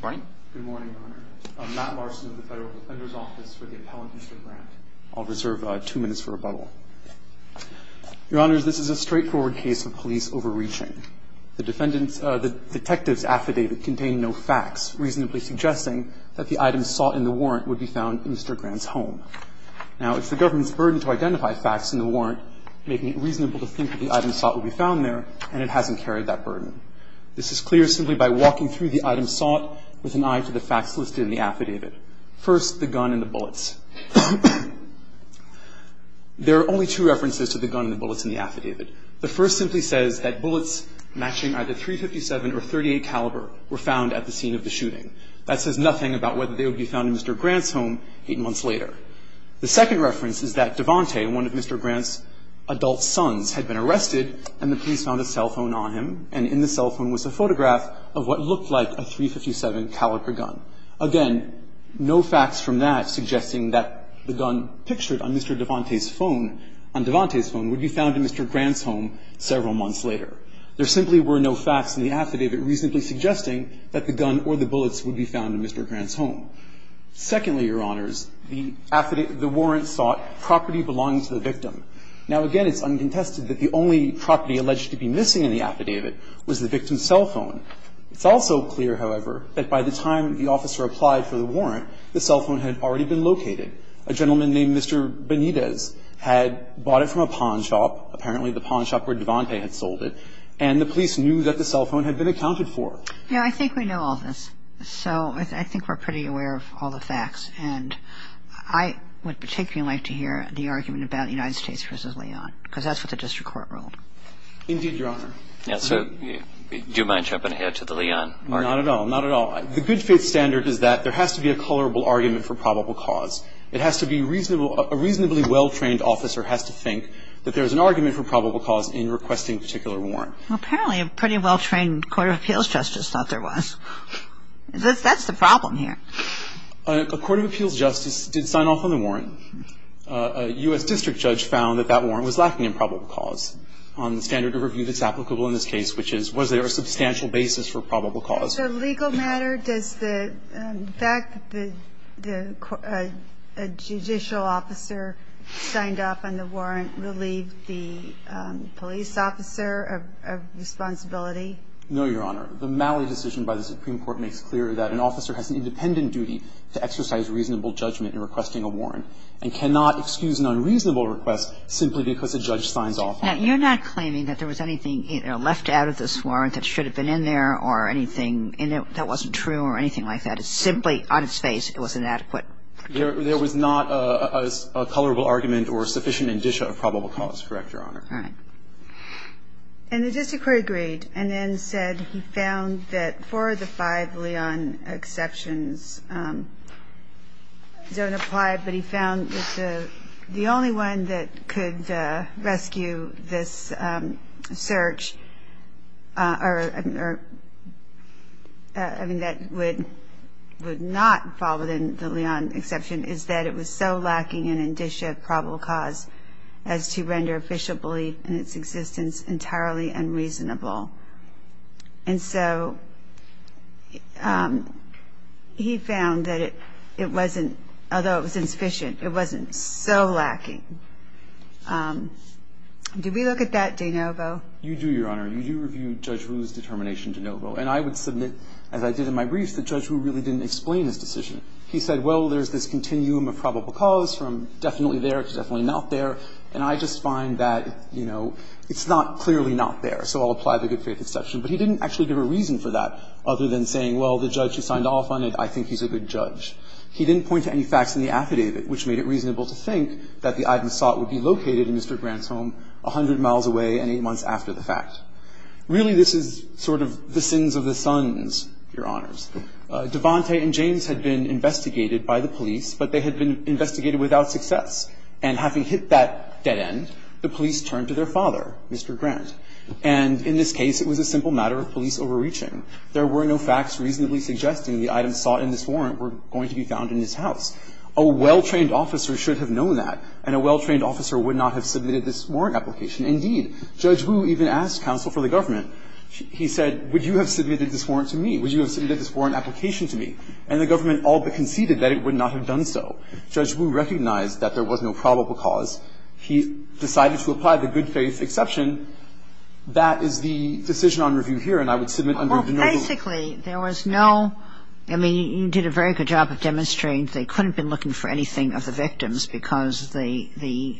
Good morning, Your Honor. I'm Matt Larson of the Federal Defender's Office for the appellant, Mr. Grant. I'll reserve two minutes for rebuttal. Your Honor, this is a straightforward case of police overreaching. The detectives' affidavit contained no facts, reasonably suggesting that the item sought in the warrant would be found in Mr. Grant's home. Now, it's the government's burden to identify facts in the warrant, making it reasonable to think that the item sought would be found there, and it hasn't carried that burden. This is clear simply by walking through the item sought with an eye to the facts listed in the affidavit. First, the gun and the bullets. There are only two references to the gun and the bullets in the affidavit. The first simply says that bullets matching either .357 or .38 caliber were found at the scene of the shooting. That says nothing about whether they would be found in Mr. Grant's home eight months later. The second reference is that Devante, one of Mr. Grant's adult sons, had been arrested and the police found a cell phone on him, and in the cell phone was a photograph of what looked like a .357 caliber gun. Again, no facts from that suggesting that the gun pictured on Mr. Devante's phone, on Devante's phone, would be found in Mr. Grant's home several months later. There simply were no facts in the affidavit reasonably suggesting that the gun or the bullets would be found in Mr. Grant's home. Secondly, Your Honors, the affidavit, the warrant sought property belonging to the victim. Now, again, it's uncontested that the only property alleged to be missing in the affidavit was the victim's cell phone. It's also clear, however, that by the time the officer applied for the warrant, the cell phone had already been located. A gentleman named Mr. Benitez had bought it from a pawn shop, apparently the pawn shop where Devante had sold it, and the police knew that the cell phone had been accounted for. Now, I think we know all this, so I think we're pretty aware of all the facts. And I would particularly like to hear the argument about United States v. Leon, because that's what the district court ruled. Indeed, Your Honor. Now, sir, do you mind jumping ahead to the Leon argument? Not at all, not at all. The good faith standard is that there has to be a colorable argument for probable cause. It has to be a reasonably well-trained officer has to think that there's an argument for probable cause in requesting a particular warrant. Well, apparently a pretty well-trained court of appeals justice thought there was. That's the problem here. A court of appeals justice did sign off on the warrant. A U.S. district judge found that that warrant was lacking in probable cause on the standard of review that's applicable in this case, which is was there a substantial basis for probable cause? So legal matter, does the fact that the judicial officer signed off on the warrant relieve the police officer of responsibility? No, Your Honor. The Malley decision by the Supreme Court makes clear that an officer has an independent duty to exercise reasonable judgment in requesting a warrant and cannot excuse an unreasonable request simply because a judge signs off on it. Now, you're not claiming that there was anything left out of this warrant that should have been in there or anything that wasn't true or anything like that. It's simply on its face it was inadequate. There was not a colorable argument or sufficient indicia of probable cause. Correct, Your Honor. All right. And the district court agreed and then said he found that four of the five Leon exceptions don't apply, but he found that the only one that could rescue this search, I mean, that would not fall within the Leon exception, is that it was so lacking in indicia of probable cause as to render official belief in its existence entirely unreasonable. And so he found that it wasn't, although it was insufficient, it wasn't so lacking. Did we look at that, De Novo? You do, Your Honor. You do review Judge Rueh's determination, De Novo. And I would submit, as I did in my briefs, that Judge Rueh really didn't explain his decision. He said, well, there's this continuum of probable cause from definitely there to definitely not there, and I just find that, you know, it's not clearly not there, so I'll apply the good faith exception. But he didn't actually give a reason for that other than saying, well, the judge who signed off on it, I think he's a good judge. He didn't point to any facts in the affidavit, which made it reasonable to think that the item sought would be located in Mr. Grant's home 100 miles away and eight months after the fact. Really, this is sort of the sins of the sons, Your Honors. Devante and James had been investigated by the police, but they had been investigated without success. And having hit that dead end, the police turned to their father, Mr. Grant. And in this case, it was a simple matter of police overreaching. There were no facts reasonably suggesting the items sought in this warrant were going to be found in his house. A well-trained officer should have known that, and a well-trained officer would not have submitted this warrant application. Indeed, Judge Rueh even asked counsel for the government. He said, would you have submitted this warrant to me? Would you have submitted this warrant application to me? And the government all but conceded that it would not have done so. Judge Rueh recognized that there was no probable cause. He decided to apply the good faith exception. That is the decision on review here, and I would submit under the no vote. Well, basically, there was no – I mean, you did a very good job of demonstrating they couldn't have been looking for anything of the victims because the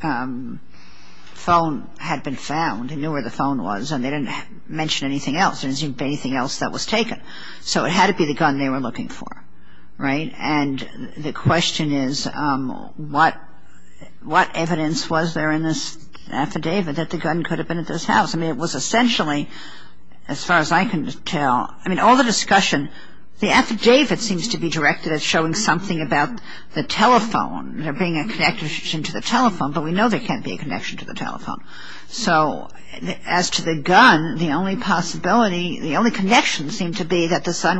phone had been found. They knew where the phone was, and they didn't mention anything else. There didn't seem to be anything else that was taken. So it had to be the gun they were looking for. Right? And the question is, what evidence was there in this affidavit that the gun could have been at this house? I mean, it was essentially, as far as I can tell – I mean, all the discussion – the affidavit seems to be directed at showing something about the telephone, there being a connection to the telephone, but we know there can't be a connection to the telephone. So as to the gun, the only possibility – the only connection seemed to be that the son,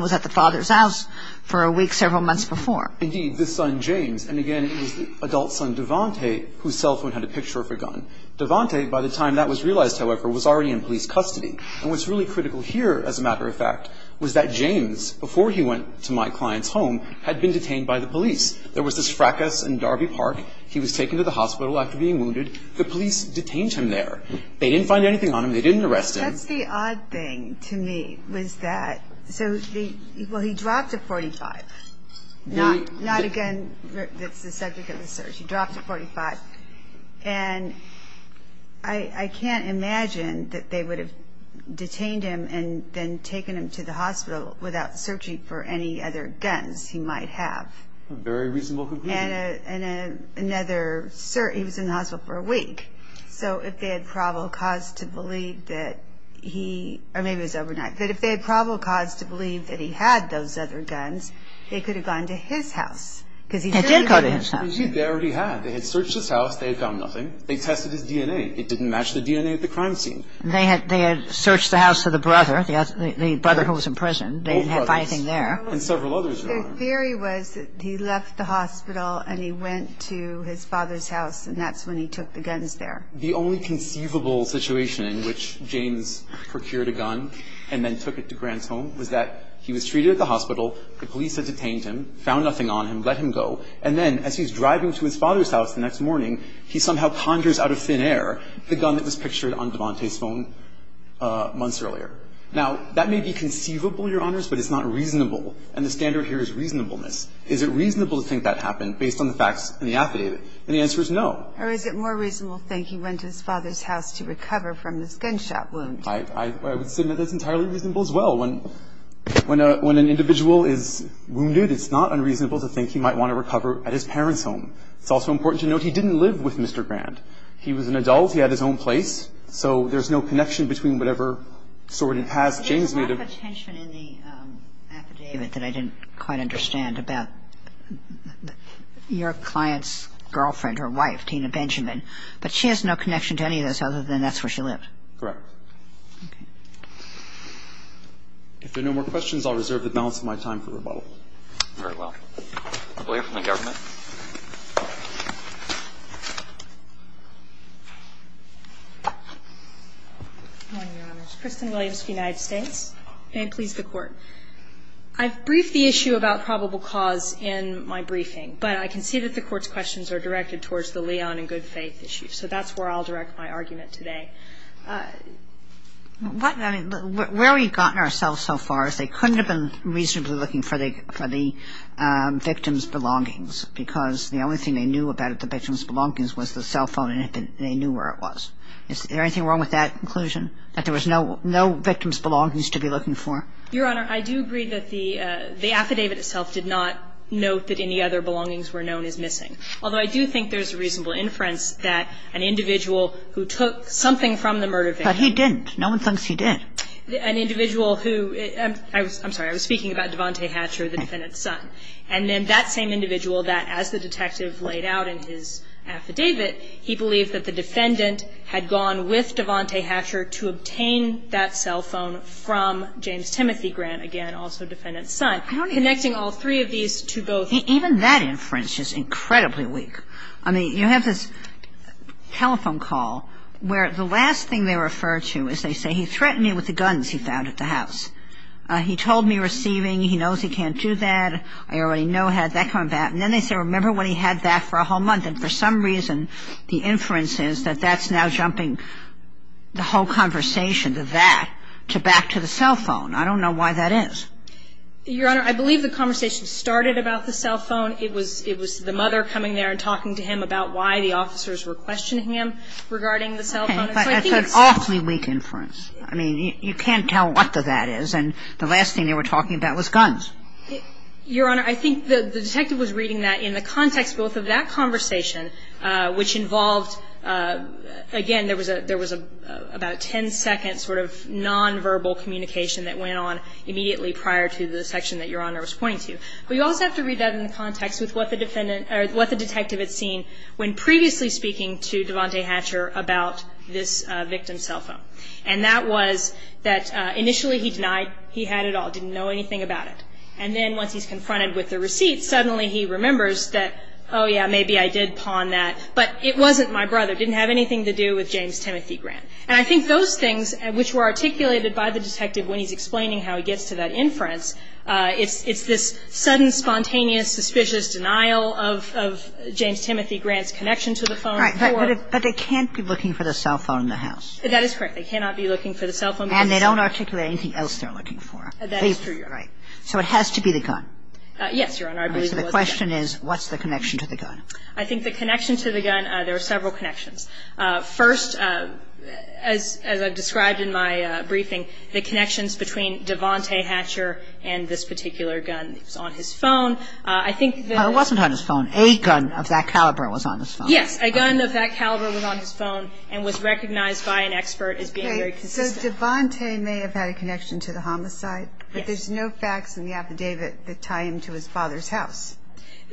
James – and again, it was the adult son, Devante, whose cell phone had a picture of a gun. Devante, by the time that was realized, however, was already in police custody. And what's really critical here, as a matter of fact, was that James, before he went to my client's home, had been detained by the police. There was this fracas in Darby Park. He was taken to the hospital after being wounded. The police detained him there. They didn't find anything on him. They didn't arrest him. That's the odd thing to me, was that – so the – well, he dropped a .45. Not a gun that's the subject of the search. He dropped a .45. And I can't imagine that they would have detained him and then taken him to the hospital without searching for any other guns he might have. A very reasonable conclusion. And another – he was in the hospital for a week. So if they had probable cause to believe that he – or maybe it was overnight. But if they had probable cause to believe that he had those other guns, they could have gone to his house. Because he did go to his house. They already had. They had searched his house. They had found nothing. They tested his DNA. It didn't match the DNA at the crime scene. They had searched the house of the brother, the brother who was in prison. They didn't have anything there. And several others. The theory was that he left the hospital and he went to his father's house, and that's when he took the guns there. The only conceivable situation in which James procured a gun and then took it to Grant's home was that he was treated at the hospital, the police had detained him, found nothing on him, let him go, and then as he's driving to his father's house the next morning, he somehow conjures out of thin air the gun that was pictured on Devante's phone months earlier. Now, that may be conceivable, Your Honors, but it's not reasonable. And the standard here is reasonableness. Is it reasonable to think that happened based on the facts in the affidavit? And the answer is no. Or is it more reasonable to think he went to his father's house to recover from this gunshot wound? I would submit that's entirely reasonable as well. When an individual is wounded, it's not unreasonable to think he might want to recover at his parents' home. It's also important to note he didn't live with Mr. Grant. He was an adult. He had his own place. So there's no connection between whatever sort of past James may have. There's a lot of tension in the affidavit that I didn't quite understand about your client's girlfriend, her wife, Tina Benjamin. But she has no connection to any of this other than that's where she lived. Correct. Okay. If there are no more questions, I'll reserve the balance of my time for rebuttal. Very well. I believe from the government. Good morning, Your Honors. Kristen Williams of the United States. May it please the Court. I've briefed the issue about probable cause in my briefing. But I can see that the Court's questions are directed towards the Leon and good faith issue. So that's where I'll direct my argument today. I mean, where we've gotten ourselves so far is they couldn't have been reasonably looking for the victim's belongings because the only thing they knew about the victim's belongings was the cell phone and they knew where it was. Is there anything wrong with that conclusion, that there was no victim's belongings to be looking for? Your Honor, I do agree that the affidavit itself did not note that any other belongings were known as missing. Although I do think there's reasonable inference that an individual who took something from the murder victim. But he didn't. No one thinks he did. An individual who – I'm sorry. I was speaking about Devante Hatcher, the defendant's son. And then that same individual that as the detective laid out in his affidavit, he believed that the defendant had gone with Devante Hatcher to obtain that cell phone from James Timothy Grant, again, also defendant's son. Connecting all three of these to both. Even that inference is incredibly weak. I mean, you have this telephone call where the last thing they refer to is they say he threatened me with the guns he found at the house. He told me receiving. He knows he can't do that. I already know I had that coming back. And then they say remember when he had that for a whole month. And for some reason, the inference is that that's now jumping the whole conversation to that, to back to the cell phone. I don't know why that is. Your Honor, I believe the conversation started about the cell phone. It was the mother coming there and talking to him about why the officers were questioning him regarding the cell phone. That's an awfully weak inference. I mean, you can't tell what the that is. And the last thing they were talking about was guns. Your Honor, I think the detective was reading that in the context both of that conversation, which involved, again, there was about a ten-second sort of nonverbal communication that went on immediately prior to the section that Your Honor was pointing to. But you also have to read that in the context with what the detective had seen when previously speaking to Devante Hatcher about this victim's cell phone. And that was that initially he denied he had it all, didn't know anything about it. And then once he's confronted with the receipt, suddenly he remembers that, oh, yeah, maybe I did pawn that, but it wasn't my brother, didn't have anything to do with James Timothy Grant. And I think those things, which were articulated by the detective when he's explaining how he gets to that inference, it's this sudden, spontaneous, suspicious denial of James Timothy Grant's connection to the phone. Right. But they can't be looking for the cell phone in the house. That is correct. They cannot be looking for the cell phone. And they don't articulate anything else they're looking for. That is true, Your Honor. So it has to be the gun. Yes, Your Honor. I believe it was the gun. The question is, what's the connection to the gun? I think the connection to the gun, there are several connections. First, as I've described in my briefing, the connections between Devante Hatcher and this particular gun. It was on his phone. I think the – It wasn't on his phone. A gun of that caliber was on his phone. Yes. A gun of that caliber was on his phone and was recognized by an expert as being very consistent. So Devante may have had a connection to the homicide. Yes. But there's no facts in the affidavit that tie him to his father's house.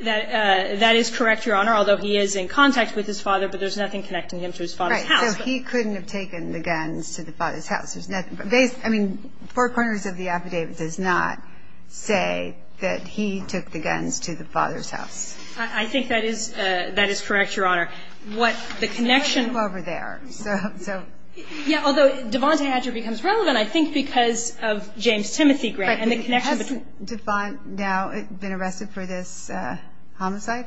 That is correct, Your Honor, although he is in contact with his father, but there's nothing connecting him to his father's house. Right. So he couldn't have taken the guns to the father's house. There's nothing. I mean, four corners of the affidavit does not say that he took the guns to the father's house. I think that is correct, Your Honor. What the connection – It's a little over there. So – Yeah, although Devante Hatcher becomes relevant, I think, because of James Timothy Grant and the connection between – Has Devante now been arrested for this homicide?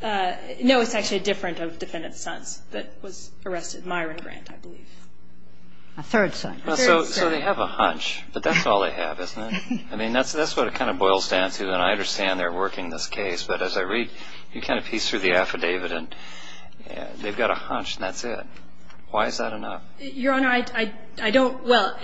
No, it's actually different of defendant's sons that was arrested, Myron Grant, I believe. A third son. A third son. So they have a hunch, but that's all they have, isn't it? I mean, that's what it kind of boils down to, and I understand they're working this case, but as I read, you kind of piece through the affidavit, and they've got a hunch, and that's it. Why is that enough? Your Honor, I don't – well,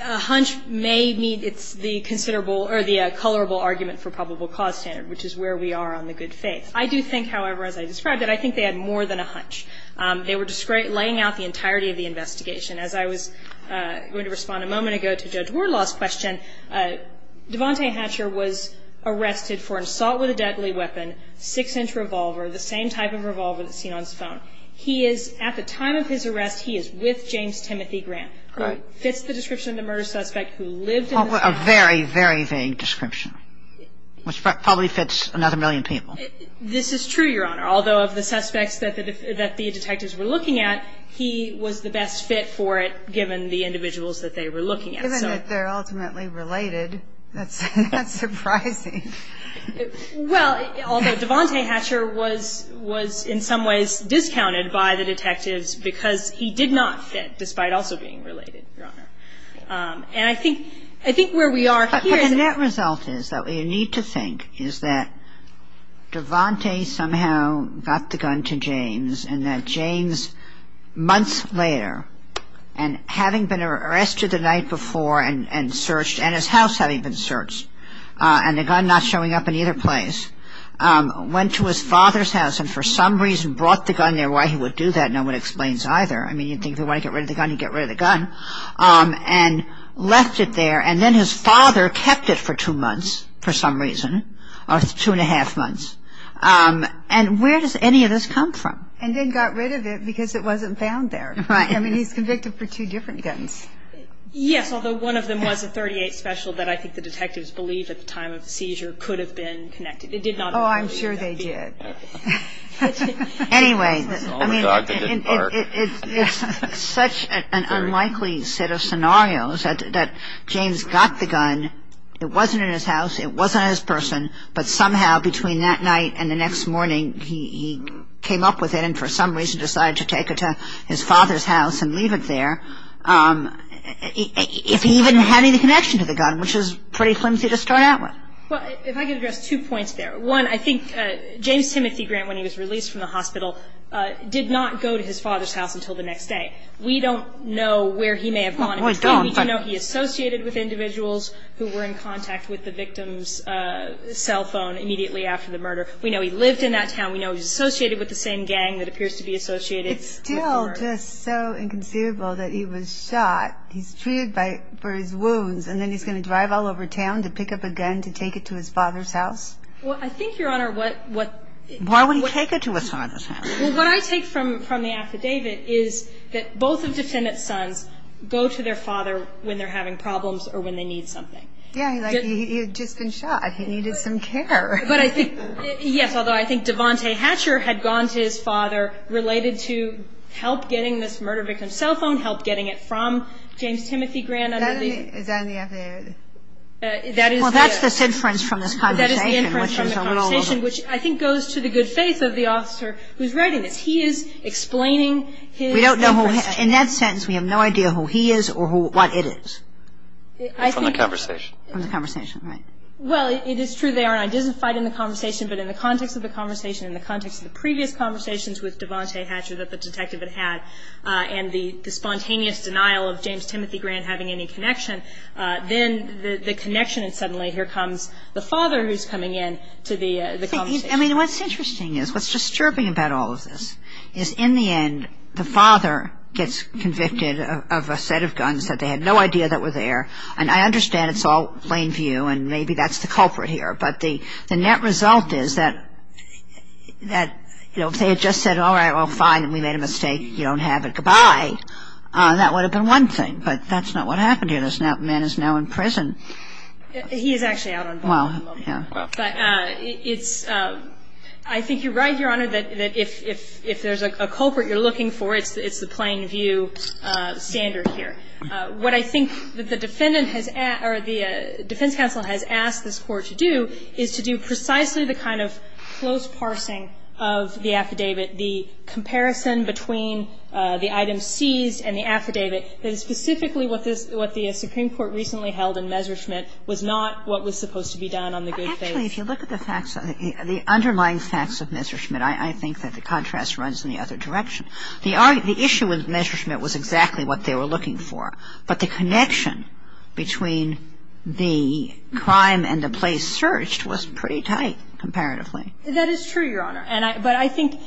a hunch may mean it's the considerable or the colorable argument for probable cause standard, which is where we are on the good faith. I do think, however, as I described it, I think they had more than a hunch. They were laying out the entirety of the investigation. As I was going to respond a moment ago to Judge Wardlaw's question, Devante Hatcher was arrested for assault with a deadly weapon, 6-inch revolver, the same type of revolver that's seen on his phone. He is, at the time of his arrest, he is with James Timothy Grant, who fits the description of the murder suspect who lived in the house. A very, very vague description, which probably fits another million people. This is true, Your Honor, although of the suspects that the detectives were looking at, he was the best fit for it given the individuals that they were looking at. Given that they're ultimately related, that's surprising. Well, although Devante Hatcher was in some ways discounted by the detectives because he did not fit, despite also being related, Your Honor. And I think where we are here is... But the net result is that what you need to think is that Devante somehow got the gun to James and that James, months later, and having been arrested the night before and searched, and his house having been searched, and the gun not showing up in either place, went to his father's house and for some reason brought the gun there. Why he would do that, no one explains either. I mean, you'd think if he wanted to get rid of the gun, he'd get rid of the gun. And left it there, and then his father kept it for two months, for some reason, or two and a half months. And where does any of this come from? And then got rid of it because it wasn't found there. Right. I mean, he's convicted for two different guns. Yes, although one of them was a .38 special that I think the detectives believed at the time of the seizure could have been connected. They did not believe that. Oh, I'm sure they did. Anyway, I mean, it's such an unlikely set of scenarios that James got the gun. It wasn't in his house. It wasn't in his person. But somehow, between that night and the next morning, he came up with it and for some reason decided to take it to his father's house and leave it there, if he even had any connection to the gun, which is pretty flimsy to start out with. Well, if I could address two points there. One, I think James Timothy Grant, when he was released from the hospital, did not go to his father's house until the next day. We don't know where he may have gone. We don't. And we do know he associated with individuals who were in contact with the victim's cell phone immediately after the murder. We know he lived in that town. We know he was associated with the same gang that appears to be associated. It's still just so inconceivable that he was shot, he's treated for his wounds, and then he's going to drive all over town to pick up a gun to take it to his father's house? Well, I think, Your Honor, what – Why would he take it to his father's house? Well, what I take from the affidavit is that both of the defendant's sons go to their father when they're having problems or when they need something. Yeah, like he had just been shot. He needed some care. But I think, yes, although I think Devontae Hatcher had gone to his father related to help getting this murder victim's cell phone, help getting it from James Timothy Grant under the – Is that in the affidavit? That is the – Well, that's the inference from this conversation, which is a little – That is the inference from the conversation, which I think goes to the good faith of the officer who's writing this. He is explaining his – We don't know who – in that sentence, we have no idea who he is or what it is. I think – From the conversation. From the conversation, right. Well, it is true they are identified in the conversation, but in the context of the conversation, in the context of the previous conversations with Devontae Hatcher that the detective had had and the spontaneous denial of James Timothy Grant having any connection, then the connection and suddenly here comes the father who's coming in to the conversation. I mean, what's interesting is, what's disturbing about all of this, is in the end the father gets convicted of a set of guns that they had no idea that were there. And I understand it's all plain view and maybe that's the culprit here, but the net result is that, you know, if they had just said, all right, well, fine, and we made a mistake, you don't have it, goodbye, that would have been one thing. But that's not what happened here. This man is now in prison. He is actually out on bail at the moment. Well, yeah. But it's – I think you're right, Your Honor, that if there's a culprit you're looking for, it's the plain view standard here. What I think the defendant has – or the defense counsel has asked this Court to do is to do precisely the kind of close parsing of the affidavit, the comparison between the item seized and the affidavit, that is specifically what the Supreme Court recently held in Messerschmitt was not what was supposed to be done on the good faith. Actually, if you look at the facts, the underlying facts of Messerschmitt, I think that the contrast runs in the other direction. The issue with Messerschmitt was exactly what they were looking for. But the connection between the crime and the place searched was pretty tight comparatively. That is true, Your Honor. But I think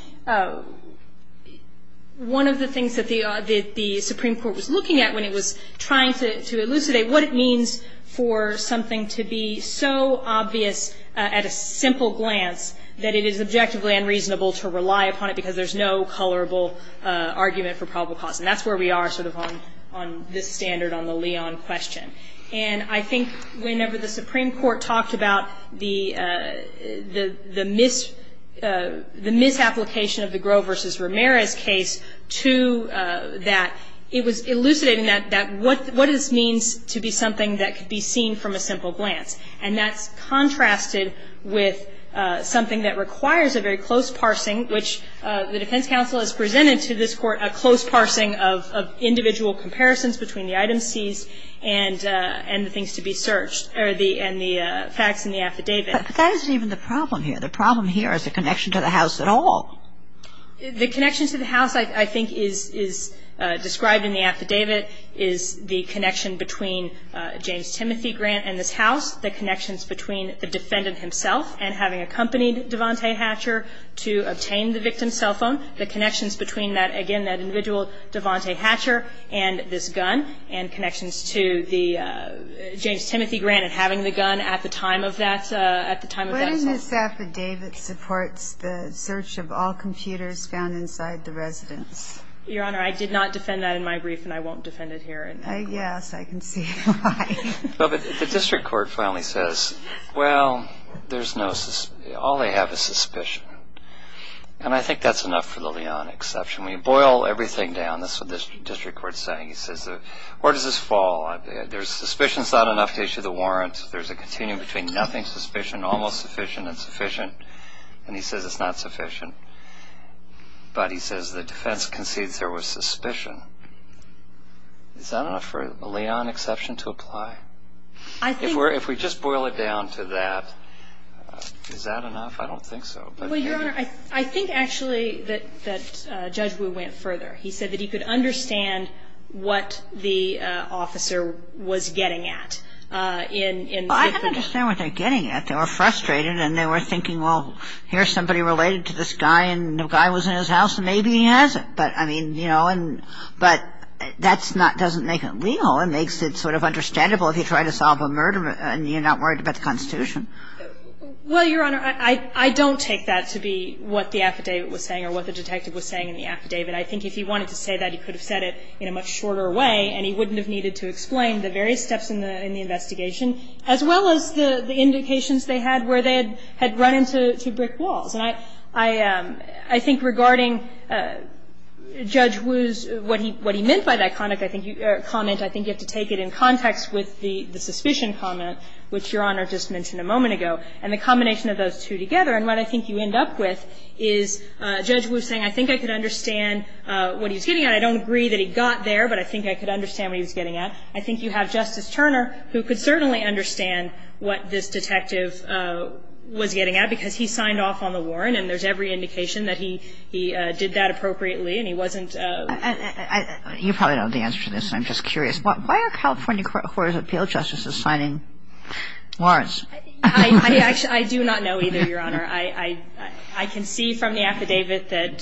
one of the things that the Supreme Court was looking at when it was trying to elucidate what it means for something to be so obvious at a simple glance that it is objectively unreasonable to rely upon it because there's no colorable argument for probable cause. And that's where we are sort of on this standard on the Leon question. And I think whenever the Supreme Court talked about the misapplication of the Gros v. Ramirez case to that, it was elucidating that what it means to be something that could be seen from a simple glance. And that's contrasted with something that requires a very close parsing, which the defense counsel has presented to this Court a close parsing of individual comparisons between the item seized and the things to be searched, and the facts in the affidavit. But that isn't even the problem here. The problem here is the connection to the house at all. The connection to the house I think is described in the affidavit is the connection between James Timothy Grant and this house, the connections between the defendant himself and having accompanied Devante Hatcher to obtain the victim's cell phone, the connections between that, again, that individual Devante Hatcher and this gun, and connections to the James Timothy Grant and having the gun at the time of that cell phone. What in this affidavit supports the search of all computers found inside the residence? Your Honor, I did not defend that in my brief, and I won't defend it here. Yes, I can see why. But the district court finally says, well, all they have is suspicion. And I think that's enough for the Leon exception. When you boil everything down, that's what the district court is saying. He says, where does this fall? There's suspicion, it's not enough to issue the warrant. There's a continuum between nothing, suspicion, almost sufficient, and sufficient. And he says it's not sufficient. But he says the defense concedes there was suspicion. Is that enough for the Leon exception to apply? If we just boil it down to that, is that enough? I don't think so. Well, Your Honor, I think actually that Judge Wu went further. He said that he could understand what the officer was getting at. Well, I can understand what they're getting at. They were frustrated, and they were thinking, well, here's somebody related to this guy, and the guy was in his house, and maybe he has it. But, I mean, you know, but that doesn't make it legal. It makes it sort of understandable if you try to solve a murder and you're not worried about the Constitution. Well, Your Honor, I don't take that to be what the affidavit was saying or what the detective was saying in the affidavit. I think if he wanted to say that, he could have said it in a much shorter way, and he wouldn't have needed to explain the various steps in the investigation, as well as the indications they had where they had run into brick walls. And I think regarding Judge Wu's, what he meant by that comment, I think you have to take it in context with the suspicion comment, which Your Honor just mentioned a moment ago, and the combination of those two together. And what I think you end up with is Judge Wu saying, I think I could understand what he was getting at. I don't agree that he got there, but I think I could understand what he was getting at. I think you have Justice Turner, who could certainly understand what this detective was getting at, because he signed off on the warrant, and there's every indication that he did that appropriately, and he wasn't. You probably don't have the answer to this, and I'm just curious. Why are California Courts of Appeal justices signing warrants? I do not know either, Your Honor. I can see from the affidavit that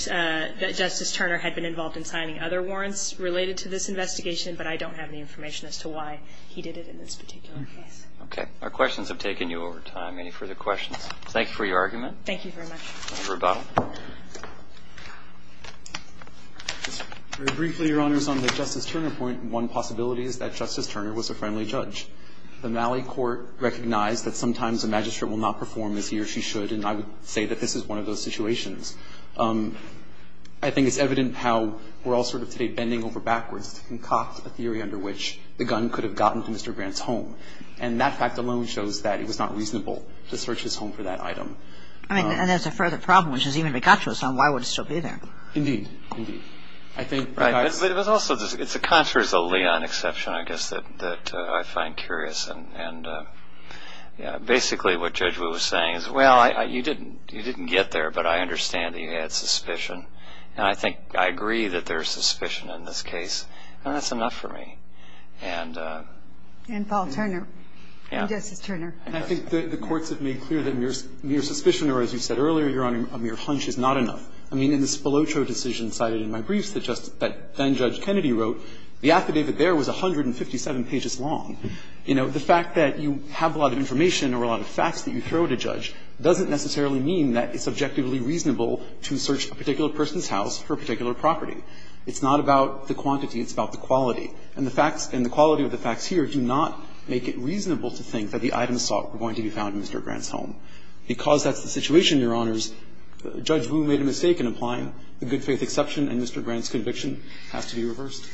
Justice Turner had been involved in signing other warrants related to this investigation, but I don't have any information as to why he did it in this particular case. Okay. Our questions have taken you over time. Any further questions? Thank you for your argument. Thank you very much. Dr. Rebottle. Very briefly, Your Honors, on the Justice Turner point, one possibility is that Justice Turner was a friendly judge. The Malley Court recognized that sometimes a magistrate will not perform as he or she should, and I would say that this is one of those situations. I think it's evident how we're all sort of today bending over backwards to concoct a theory under which the gun could have gotten to Mr. Grant's home. And that fact alone shows that it was not reasonable to search his home for that item. I mean, and there's a further problem, which is even Picacho's home, why would it still be there? Indeed. Indeed. I think Picacho's. Right. But it was also, it's a contrast, a Leon exception, I guess, that I find curious. And basically what Judge Wood was saying is, well, you didn't get there, but I understand that you had suspicion. And I think I agree that there's suspicion in this case, and that's enough for me. And Paul Turner. Yeah. And Justice Turner. And I think the courts have made clear that mere suspicion or, as you said earlier, Your Honor, a mere hunch is not enough. I mean, in the Spoloccio decision cited in my briefs that then-Judge Kennedy wrote, the affidavit there was 157 pages long. You know, the fact that you have a lot of information or a lot of facts that you throw at a judge doesn't necessarily mean that it's objectively reasonable to search a particular person's house for a particular property. It's not about the quantity. It's about the quality. And the facts and the quality of the facts here do not make it reasonable to think that the items sought were going to be found in Mr. Grant's home. Because that's the situation, Your Honors, Judge Wood made a mistake in applying the good faith exception, and Mr. Grant's conviction has to be reversed.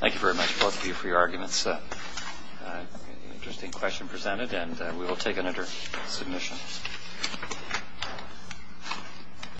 Thank you very much, both of you, for your arguments. An interesting question presented, and we will take it under submission.